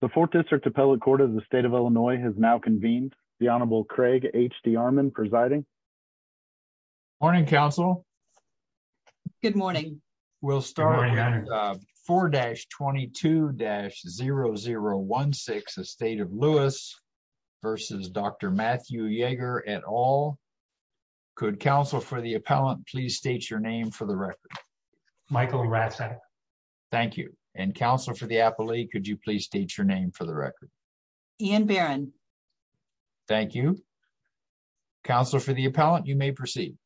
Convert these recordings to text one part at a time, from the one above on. the fourth district appellate court of the state of illinois has now convened the honorable craig hd armand presiding morning counsel good morning we'll start 4-22-0016 the state of lewis versus dr matthew jaeger et al could counsel for the appellant please state your name for the record michael ratson thank you and counsel for the appellate could you please state your name for the record ian barron thank you counsel for the appellant you may proceed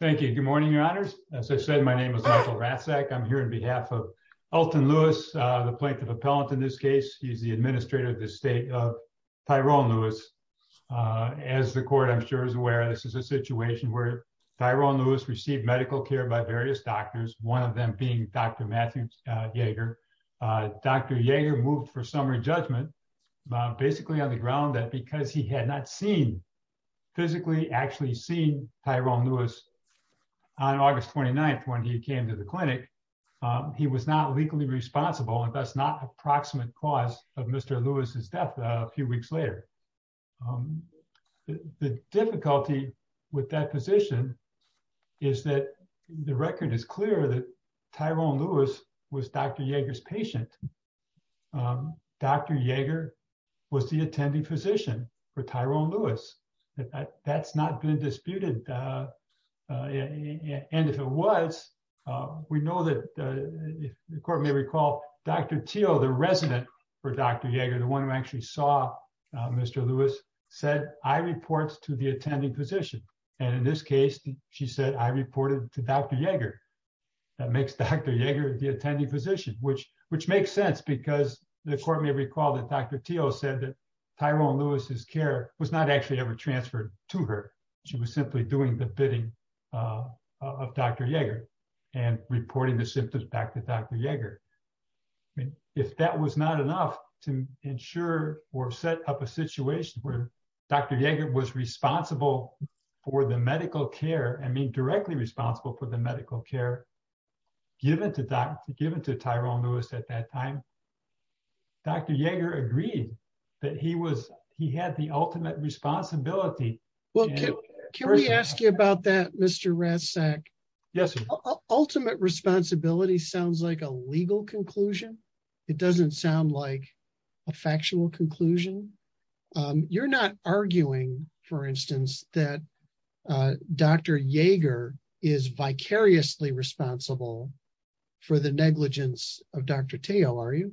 thank you good morning your honors as i said my name is michael ratzak i'm here on behalf of elton lewis uh the plaintiff appellant in this case he's the administrator of the state of tyrone lewis uh as the court i'm sure is aware this is a situation where tyrone lewis received medical care by various doctors one of them being dr matthew jaeger uh dr jaeger moved for summary judgment basically on the ground that because he had not seen physically actually seen tyrone lewis on august 29th when he came to the clinic he was not legally responsible and thus not approximate cause of mr lewis's death a few weeks later the difficulty with that position is that the record is clear that tyrone lewis was dr jaeger's patient dr jaeger was the attending physician for tyrone lewis that's not been disputed and if it was we know that if the court may recall dr teal the resident for dr jaeger the i reports to the attending physician and in this case she said i reported to dr jaeger that makes dr jaeger the attending physician which which makes sense because the court may recall that dr teal said that tyrone lewis's care was not actually ever transferred to her she was simply doing the bidding uh of dr jaeger and reporting the symptoms back to dr jaeger i mean if that was not enough to ensure or set up a situation where dr jaeger was responsible for the medical care i mean directly responsible for the medical care given to doctor given to tyrone lewis at that time dr jaeger agreed that he was he had the ultimate responsibility well can we ask you about that mr ratzak yes ultimate responsibility sounds like a legal conclusion it doesn't sound like a factual conclusion you're not arguing for instance that uh dr jaeger is vicariously responsible for the negligence of dr teo are you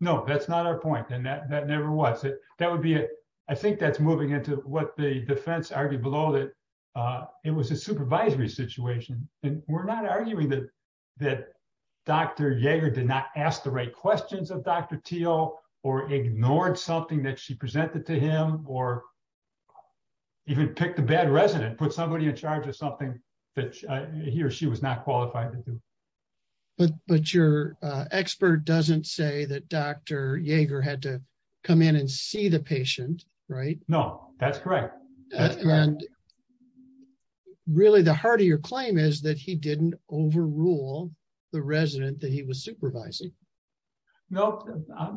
no that's not our point and that that never was it that would be it i think that's moving into what the defense argued below that uh it was a supervisory situation and we're not arguing that that dr jaeger did not ask the right questions of dr teo or ignored something that she presented to him or even picked a bad resident put somebody in charge of something that he or she was not qualified to do but but your uh expert doesn't say that dr jaeger had to come in and see the patient right no that's correct and really the heart of your claim is that he didn't overrule the resident that he was supervising no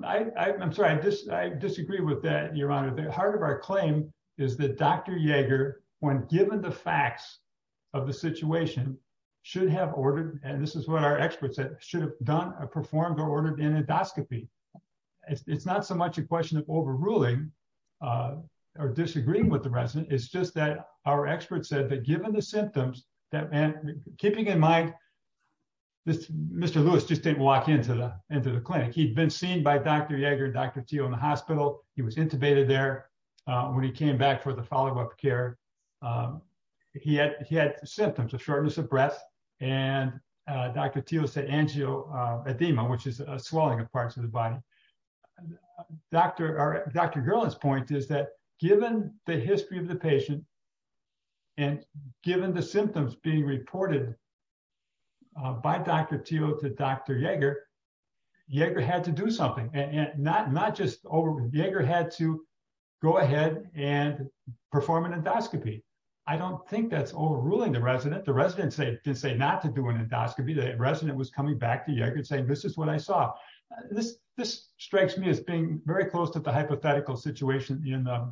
i i'm sorry i just i disagree with that your honor the heart of our claim is that dr jaeger when given the facts of the situation should have ordered and this is what our experts said should have done or performed or ordered an endoscopy it's not so much a question of overruling uh or disagreeing with the resident it's just that our experts said that given the symptoms that meant keeping in mind this mr lewis just didn't walk into the into the clinic he'd been seen by dr jaeger dr teo in the hospital he was intubated there uh when he came back for the follow-up care um he had he had symptoms of shortness of breath and uh dr teo said angio uh edema which is a swelling of parts of the body uh dr or dr girl's point is that given the history of the patient and given the symptoms being reported uh by dr teo to dr jaeger jaeger had to do something and not not just over jaeger had to go ahead and perform an endoscopy i don't think that's overruling the resident the resident say didn't say not to do an endoscopy the resident was coming back to jaeger saying this is what i strikes me as being very close to the hypothetical situation in the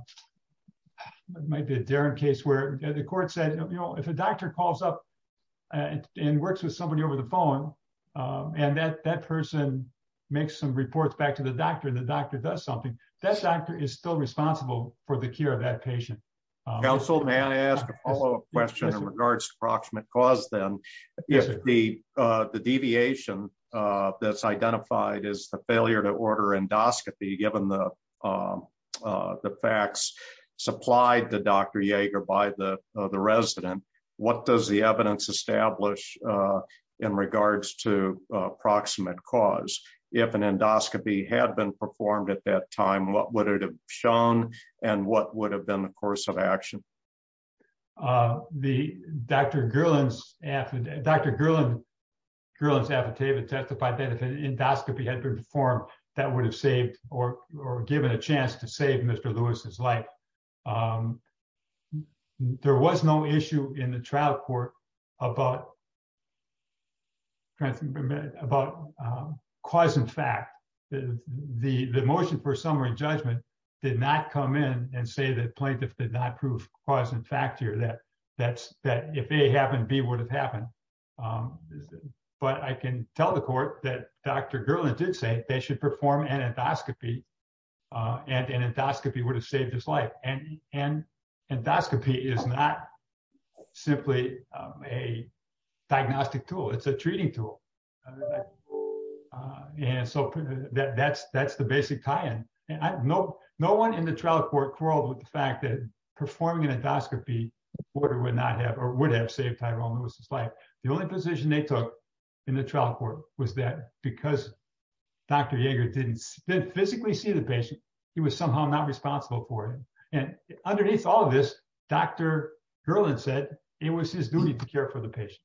might be a darren case where the court said you know if a doctor calls up and works with somebody over the phone um and that that person makes some reports back to the doctor and the doctor does something that doctor is still responsible for the care of that patient counsel may i ask a follow-up question in regards to approximate cause then if the uh the deviation uh that's endoscopy given the um uh the facts supplied to dr jaeger by the the resident what does the evidence establish uh in regards to approximate cause if an endoscopy had been performed at that time what would it have shown and what would have been the course of action uh the dr girland's after dr girland girl's affidavit testified that if an endoscopy had performed that would have saved or or given a chance to save mr lewis's life there was no issue in the trial court about about cause and fact the the motion for summary judgment did not come in and say that plaintiff did not prove cause and fact here that that's that if a happened b would have happened um but i can tell the court that dr girland did say they should perform an endoscopy and an endoscopy would have saved his life and and endoscopy is not simply a diagnostic tool it's a treating tool and so that that's that's the basic tie-in and i know no one in the trial court quarreled with the fact that performing an endoscopy order would not have or would have saved tyrone lewis's life the only position they took in the trial court was that because dr jaeger didn't physically see the patient he was somehow not responsible for it and underneath all of this dr girland said it was his duty to care for the patient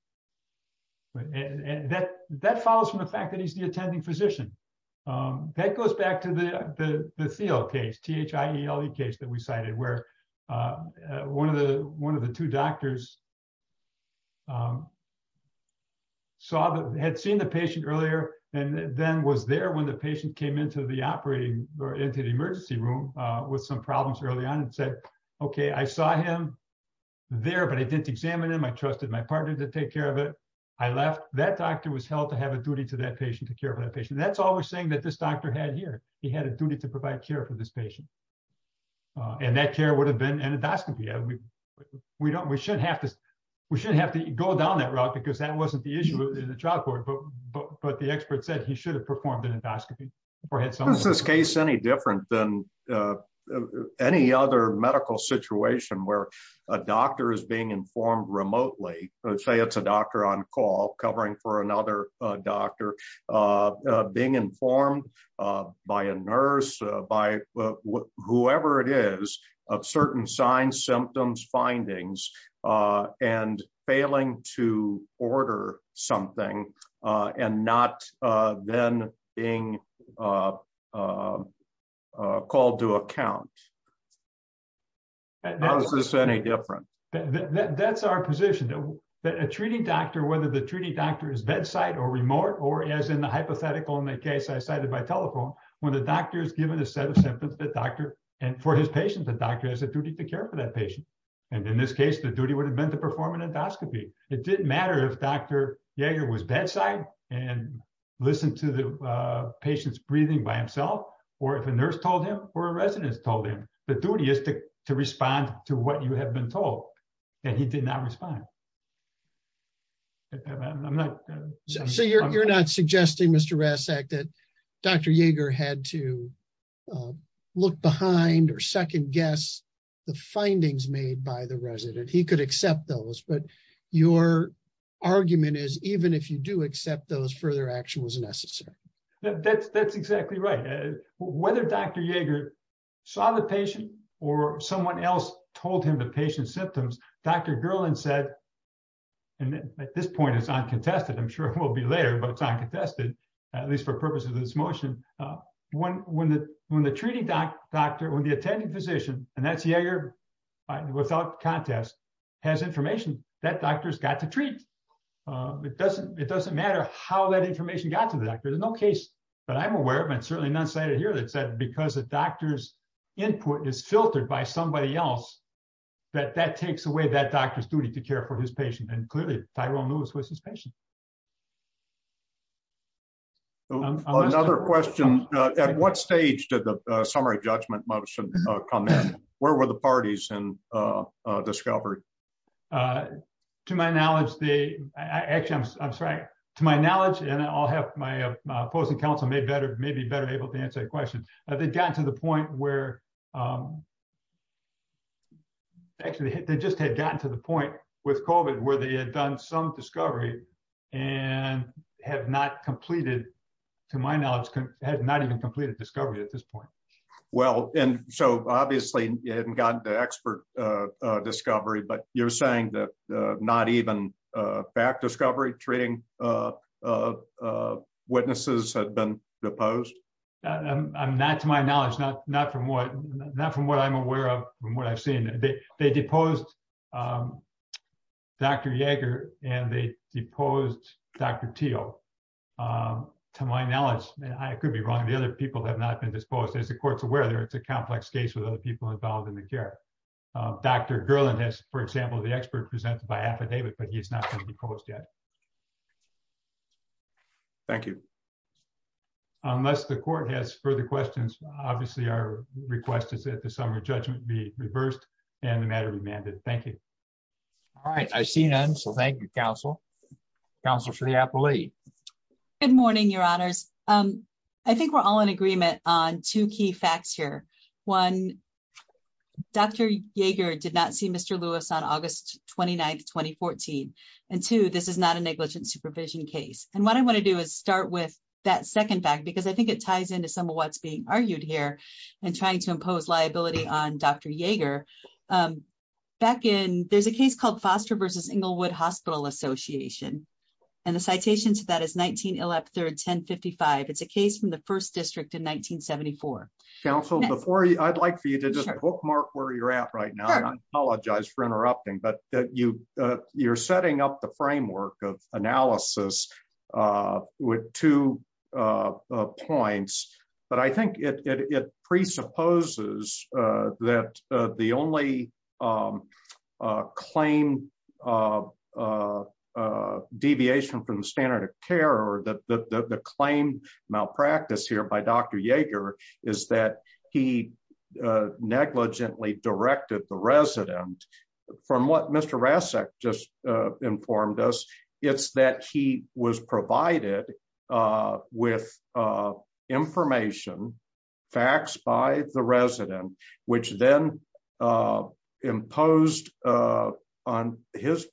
and that that follows from the fact that he's the attending physician um that goes back to the the the theo case t-h-i-e-l-e um saw that had seen the patient earlier and then was there when the patient came into the operating or into the emergency room uh with some problems early on and said okay i saw him there but i didn't examine him i trusted my partner to take care of it i left that doctor was held to have a duty to that patient to care for that patient that's all we're saying that this doctor had here he had a duty to provide care for this patient uh and that care would have been an endoscopy we don't we should have to we shouldn't have to go down that route because that wasn't the issue in the trial court but but but the expert said he should have performed an endoscopy or had some this case any different than uh any other medical situation where a doctor is being informed remotely let's say it's a doctor on call covering for another uh doctor uh being symptoms findings uh and failing to order something uh and not uh then being uh uh called to account how is this any different that that's our position that a treating doctor whether the treating doctor is bedside or remote or as in the hypothetical in the case i cited by telephone when the doctor is given a set of symptoms the doctor and for his patient the doctor has a duty to care for that patient and in this case the duty would have been to perform an endoscopy it didn't matter if dr jaeger was bedside and listened to the uh patients breathing by himself or if a nurse told him or a resident told him the duty is to to respond to what you have been told and he did not respond i'm not so you're not suggesting mr rasek that dr jaeger had to look behind or second guess the findings made by the resident he could accept those but your argument is even if you do accept those further action was necessary that's that's exactly right whether dr jaeger saw the patient or someone else told him the patient's symptoms dr gerland said and at this point it's not contested i'm sure it will be later but it's not contested at least for purposes of this motion uh when when the when the treating doctor when the attending physician and that's jaeger without contest has information that doctor's got to treat uh it doesn't it doesn't matter how that information got to the doctor there's no case but i'm aware of and certainly not cited because the doctor's input is filtered by somebody else that that takes away that doctor's duty to care for his patient and clearly tyrone moves with his patient another question uh at what stage did the summary judgment motion uh come in where were the parties and uh uh discovered uh to my knowledge they actually i'm sorry to my knowledge and i'll have my opposing counsel may better may be better able to answer your question they got to the point where um actually they just had gotten to the point with covid where they had done some discovery and have not completed to my knowledge had not even completed discovery at this point well and so obviously you hadn't gotten the expert uh uh discovery but you're saying that not even uh back discovery treating uh uh witnesses had been deposed i'm not to my knowledge not not from what not from what i'm aware of from what i've seen they they deposed dr jaeger and they deposed dr teal um to my knowledge and i could be wrong the other people have not been disposed as the court's aware there it's a complex case with other people involved in affidavit but he's not going to be closed yet thank you unless the court has further questions obviously our request is that the summer judgment be reversed and the matter be mandated thank you all right i see none so thank you counsel counsel shirley appley good morning your honors um i think we're all in agreement on two key facts here one dr jaeger did not see mr lewis on august 29th 2014 and two this is not a negligent supervision case and what i want to do is start with that second fact because i think it ties into some of what's being argued here and trying to impose liability on dr jaeger um back in there's a case called foster versus inglewood hospital association and the citation to that is 19 1055 it's a case from the first district in 1974 counsel before i'd like for you to just bookmark where you're at right now i apologize for interrupting but that you uh you're setting up the framework of analysis uh with two uh points but i think it it presupposes uh that the only um uh claim uh uh uh deviation from the standard of care or the the claim malpractice here by dr jaeger is that he uh negligently directed the resident from what mr rasek just uh informed us it's that he was provided uh with uh information faxed by the resident which then uh imposed uh on his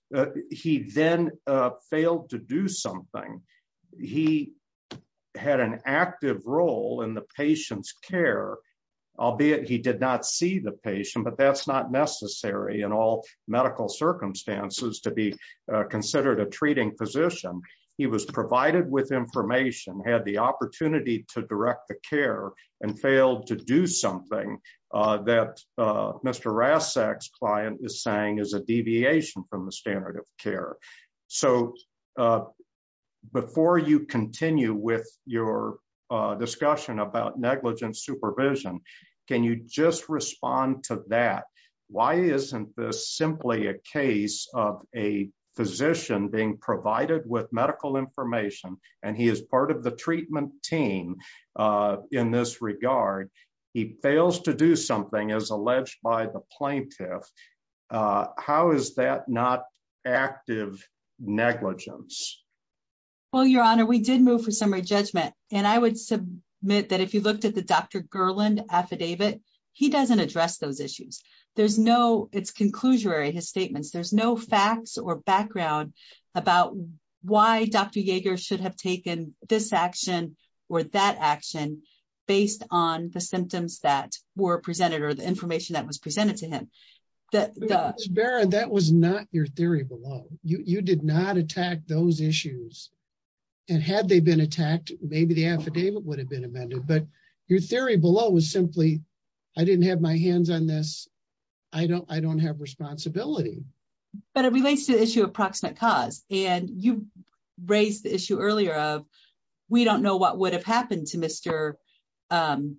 he then uh failed to do something he had an active role in the patient's care albeit he did not see the patient but that's not necessary in all medical circumstances to be considered a treating physician he was provided with information had the opportunity to direct the care and failed to do something uh that uh mr rasek's client is saying is a deviation from the standard of care so uh before you continue with your uh discussion about negligent supervision can you just respond to that why isn't this simply a physician being provided with medical information and he is part of the treatment team uh in this regard he fails to do something as alleged by the plaintiff uh how is that not active negligence well your honor we did move for summary judgment and i would submit that if you looked at the dr gerland affidavit he doesn't address those issues there's no it's conclusory his statements there's no facts or background about why dr jaeger should have taken this action or that action based on the symptoms that were presented or the information that was presented to him that barrett that was not your theory below you you did not attack those issues and had they been attacked maybe the affidavit would have been amended but your theory below was simply i didn't have my hands on i don't i don't have responsibility but it relates to the issue of proximate cause and you raised the issue earlier of we don't know what would have happened to mr um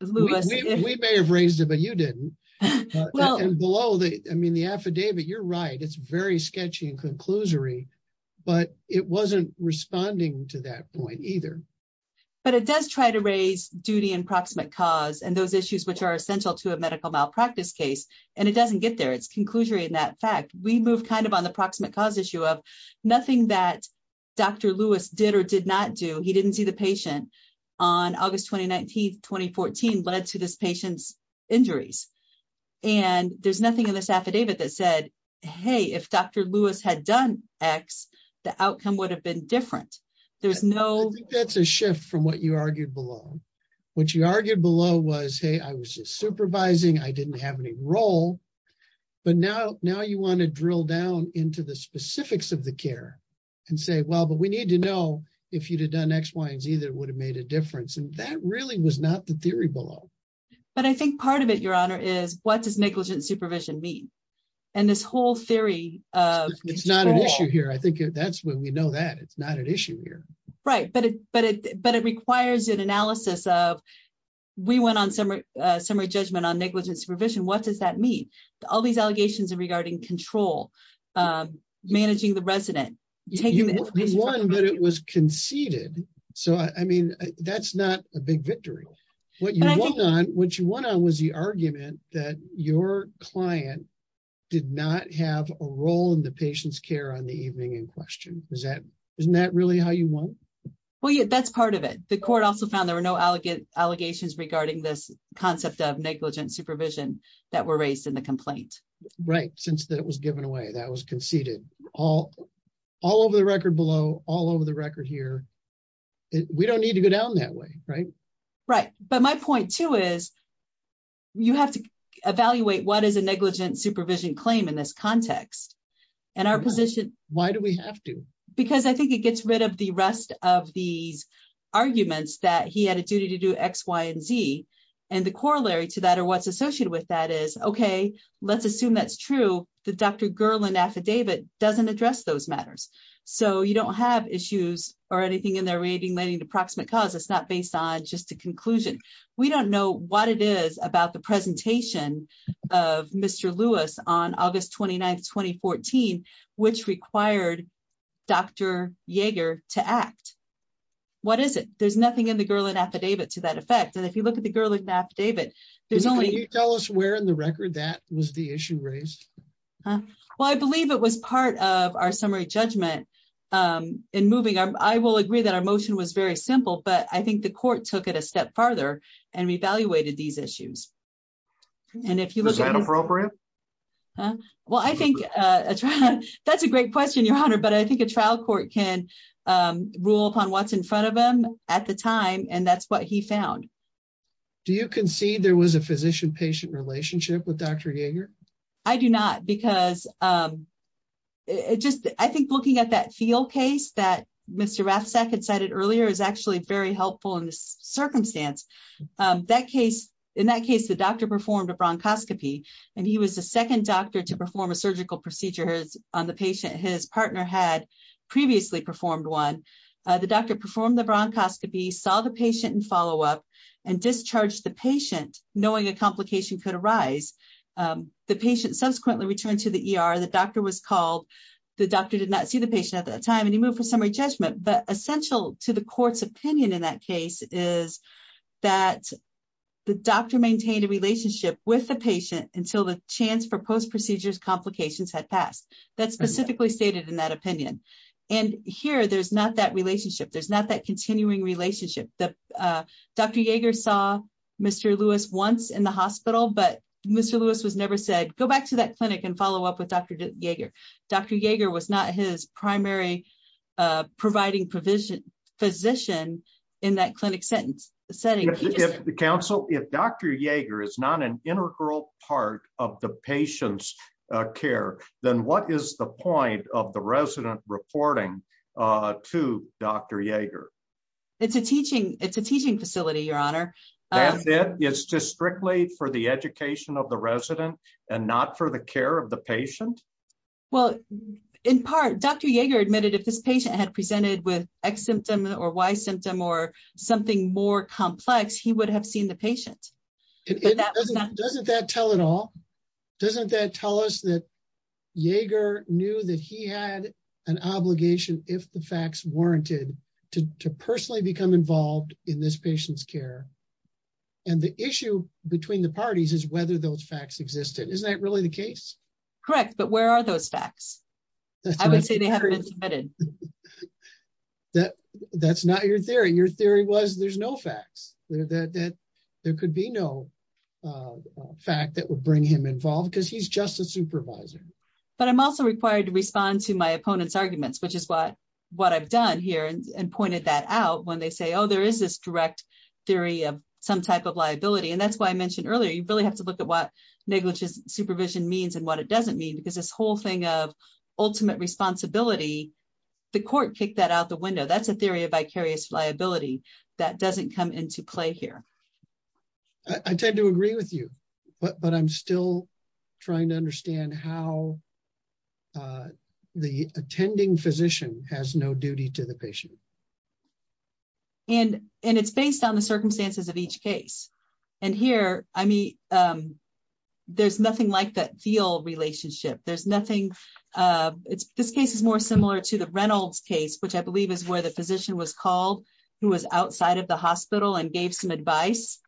we may have raised it but you didn't and below the i mean the affidavit you're right it's very sketchy and conclusory but it wasn't responding to that point either but it does try to raise duty and proximate cause and those issues which are essential to a medical malpractice case and it doesn't get there it's conclusory in that fact we move kind of on the proximate cause issue of nothing that dr lewis did or did not do he didn't see the patient on august 2019 2014 led to this patient's injuries and there's nothing in this affidavit that said hey if dr lewis had done x the outcome would have been different there's no i think that's a shift from what you argued below what you argued below was hey i was just supervising i didn't have any role but now now you want to drill down into the specifics of the care and say well but we need to know if you'd have done x y and z that would have made a difference and that really was not the theory below but i think part of it your honor is what does negligent supervision mean and this whole theory of it's not an issue here i think that's when we know that it's not an issue here right but it but it requires an analysis of we went on summer uh summary judgment on negligence supervision what does that mean all these allegations regarding control um managing the resident taking the one that it was conceded so i mean that's not a big victory what you want on what you want on was the argument that your client did not have a role in the patient's care on the evening in question is that isn't that really how you want well yeah that's part of it the court also found there were no elegant allegations regarding this concept of negligent supervision that were raised in the complaint right since that it was given away that was conceded all all over the record below all over the record here we don't need to go down that way right right but my point too is you have to evaluate what is a negligent supervision claim in this context and our position why do we have to because i think it gets rid of the rest of these arguments that he had a duty to do x y and z and the corollary to that or what's associated with that is okay let's assume that's true the dr girland affidavit doesn't address those matters so you don't have issues or anything in there relating to proximate cause it's not based on just a conclusion we don't know what it is about the presentation of mr lewis on august 29 2014 which required dr jaeger to act what is it there's nothing in the girl in affidavit to that effect and if you look at the girl in affidavit there's only you tell us where in the record that was the issue raised well i believe it was part of our summary judgment um in moving i will agree that motion was very simple but i think the court took it a step farther and evaluated these issues and if you look at appropriate well i think uh that's a great question your honor but i think a trial court can um rule upon what's in front of them at the time and that's what he found do you concede there was a physician patient relationship with dr jaeger i do not because um it just i think looking at that field case that mr rafsak had cited earlier is actually very helpful in this circumstance um that case in that case the doctor performed a bronchoscopy and he was the second doctor to perform a surgical procedure on the patient his partner had previously performed one the doctor performed the bronchoscopy saw the patient and follow up and discharged the patient knowing a complication could arise um the patient subsequently returned to the er the doctor was called the doctor did not see the patient at that time and he moved for summary judgment but essential to the court's opinion in that case is that the doctor maintained a relationship with the patient until the chance for post-procedures complications had passed that's specifically stated in that opinion and here there's not that relationship there's not that continuing relationship that uh dr jaeger saw mr lewis once in the hospital but mr lewis was never said go back to that clinic and follow up with dr jaeger dr jaeger was not his primary providing provision physician in that clinic sentence setting if the council if dr jaeger is not an integral part of the patient's care then what is the point of the resident reporting uh to dr jaeger it's a teaching it's a teaching facility your honor that's it it's just strictly for the education of the resident and not for the care of the patient well in part dr jaeger admitted if this patient had presented with x symptom or y symptom or something more complex he would have seen the patient but that doesn't that tell at all doesn't that tell us that jaeger knew that he had an obligation if the facts warranted to to personally become involved in this patient's care and the issue between the parties is whether those facts existed isn't that really the case correct but where are those facts i would say they haven't been submitted that that's not your theory your theory was there's no facts that that there could be no fact that would bring him involved because he's just a supervisor but i'm also required to respond to my opponent's arguments which is what what i've done here and pointed that out when they say oh there is this direct theory of some type of liability and that's why i mentioned earlier you really have to look at what negligence supervision means and what it doesn't mean because this whole thing of ultimate responsibility the court kicked that out the window that's a theory of vicarious liability that doesn't come into play here i tend to agree with you but but i'm still trying to understand how uh the attending physician has no duty to the patient and and it's based on the circumstances of each case and here i mean um there's nothing like that feel relationship there's nothing uh it's this case is more similar to the reynolds case which i believe is where the physician was called who was outside of the hospital and gave some advice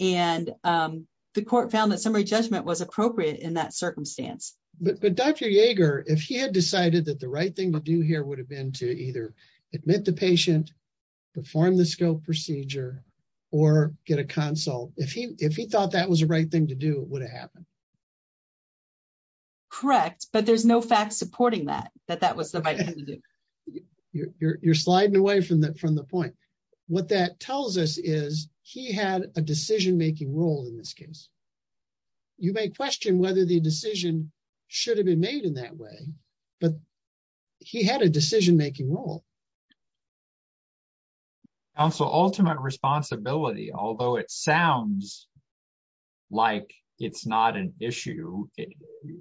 and um the court found that summary judgment was appropriate in that circumstance but but dr jaeger if he had decided that the right thing to do here would have been to either admit the patient perform the scope procedure or get a consult if he if he thought that was the right thing to do it would have happened correct but there's no fact supporting that that that was the right thing to do you're you're sliding away from that from the point what that tells us is he had a decision-making role in this case you may question whether the counsel ultimate responsibility although it sounds like it's not an issue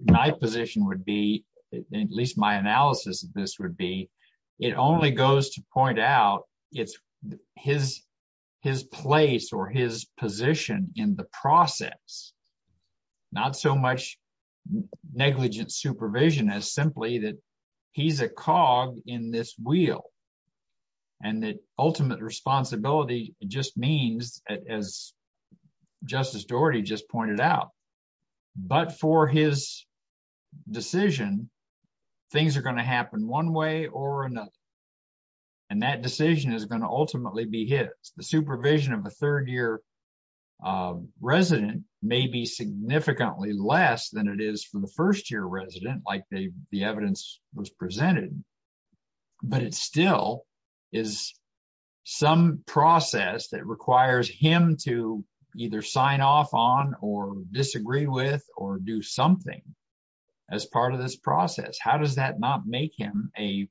my position would be at least my analysis of this would be it only goes to point out it's his his place or his position in the process not so much negligent supervision as simply that he's a cog in this wheel and that ultimate responsibility just means as justice doherty just pointed out but for his decision things are going to happen one way or another and that decision is going to ultimately be his the supervision of a third year resident may be significantly less than it still is some process that requires him to either sign off on or disagree with or do something as part of this process how does that not make him a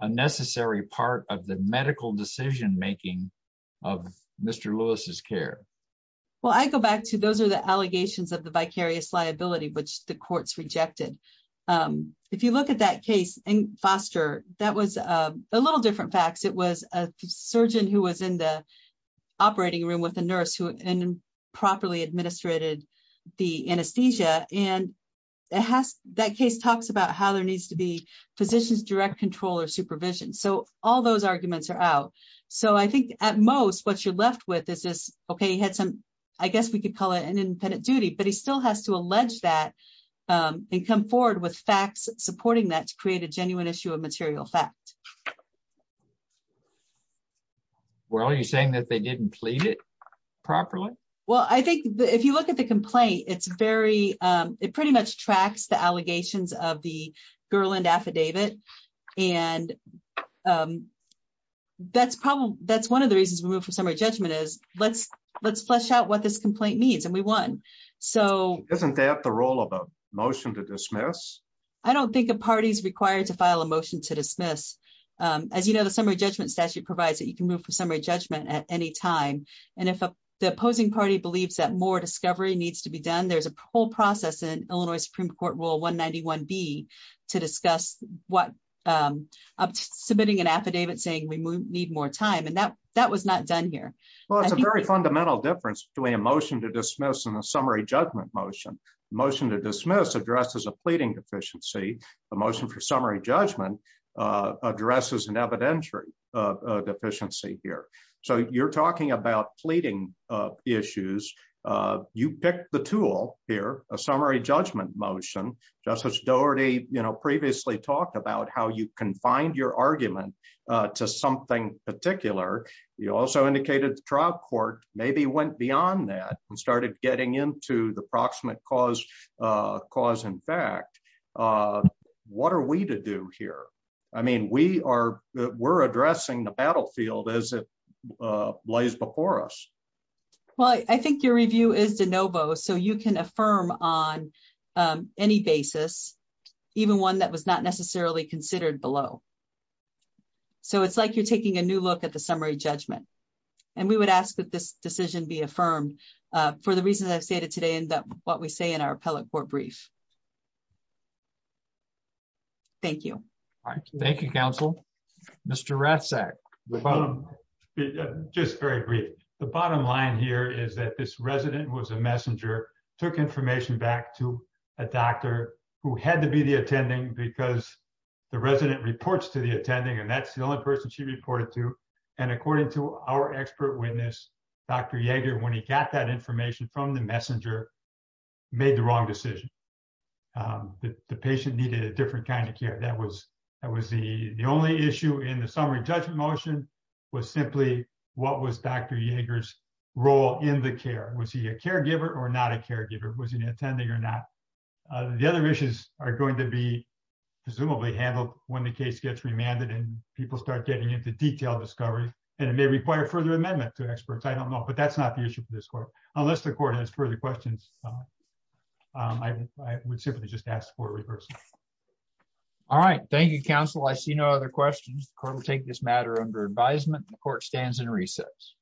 a necessary part of the medical decision making of mr lewis's care well i go back to those are the allegations of the vicarious liability which the courts rejected um if you look at that case and foster that was a little different facts it was a surgeon who was in the operating room with a nurse who and properly administrated the anesthesia and it has that case talks about how there needs to be physicians direct control or supervision so all those arguments are out so i think at most what you're left with is this okay i guess we could call it an independent duty but he still has to allege that and come forward with facts supporting that to create a genuine issue of material fact well are you saying that they didn't plead it properly well i think if you look at the complaint it's very um it pretty much tracks the allegations of the girl and affidavit and um that's probably that's one of the reasons we move for summary judgment is let's let's flesh out what this complaint means and we won so isn't that the role of a motion to dismiss i don't think a party's required to file a motion to dismiss um as you know the summary judgment statute provides that you can move for summary judgment at any time and if the opposing party believes that more discovery needs to be done there's a whole process in illinois supreme court rule 191 b to discuss what um submitting an affidavit saying we need more time and that that was not done here well it's a very fundamental difference between a motion to dismiss and a summary judgment motion motion to dismiss addresses a pleading deficiency the motion for summary judgment uh addresses an evidentiary uh deficiency here so you're talking about pleading uh issues uh you picked the tool here a summary judgment motion justice doherty you know previously talked about how you confined your argument uh to something particular you also indicated the trial court maybe went beyond that and started getting into the approximate cause uh cause in fact uh what are we to do here i mean we are we're addressing the battlefield as it uh lays before us well i think your review is de novo so you can affirm on um any basis even one that was not necessarily considered below so it's like you're taking a new look at the summary judgment and we would ask that this decision be affirmed uh for the reasons i've stated today and that what we say in our appellate court brief thank you all right thank you counsel mr ratzak the bottom just very brief the bottom line here is that this resident was a messenger took information back to a doctor who had to be the attending because the resident reports to the attending and that's the only person she reported to and according to our expert witness dr jaeger when he got that information from the messenger made the wrong decision um the patient needed a different kind of care that was that was the the only issue in the summary judgment motion was simply what was dr jaeger's role in the care was he a caregiver or not a caregiver was he attending or not the other issues are going to be presumably handled when the case gets remanded and people start getting into detailed discovery and it may require further amendment to experts i don't know but that's not the issue for this court unless the court has further questions um i would simply just ask for a reversal all right thank you counsel i see no other questions the court will take this matter under advisement the court stands in recess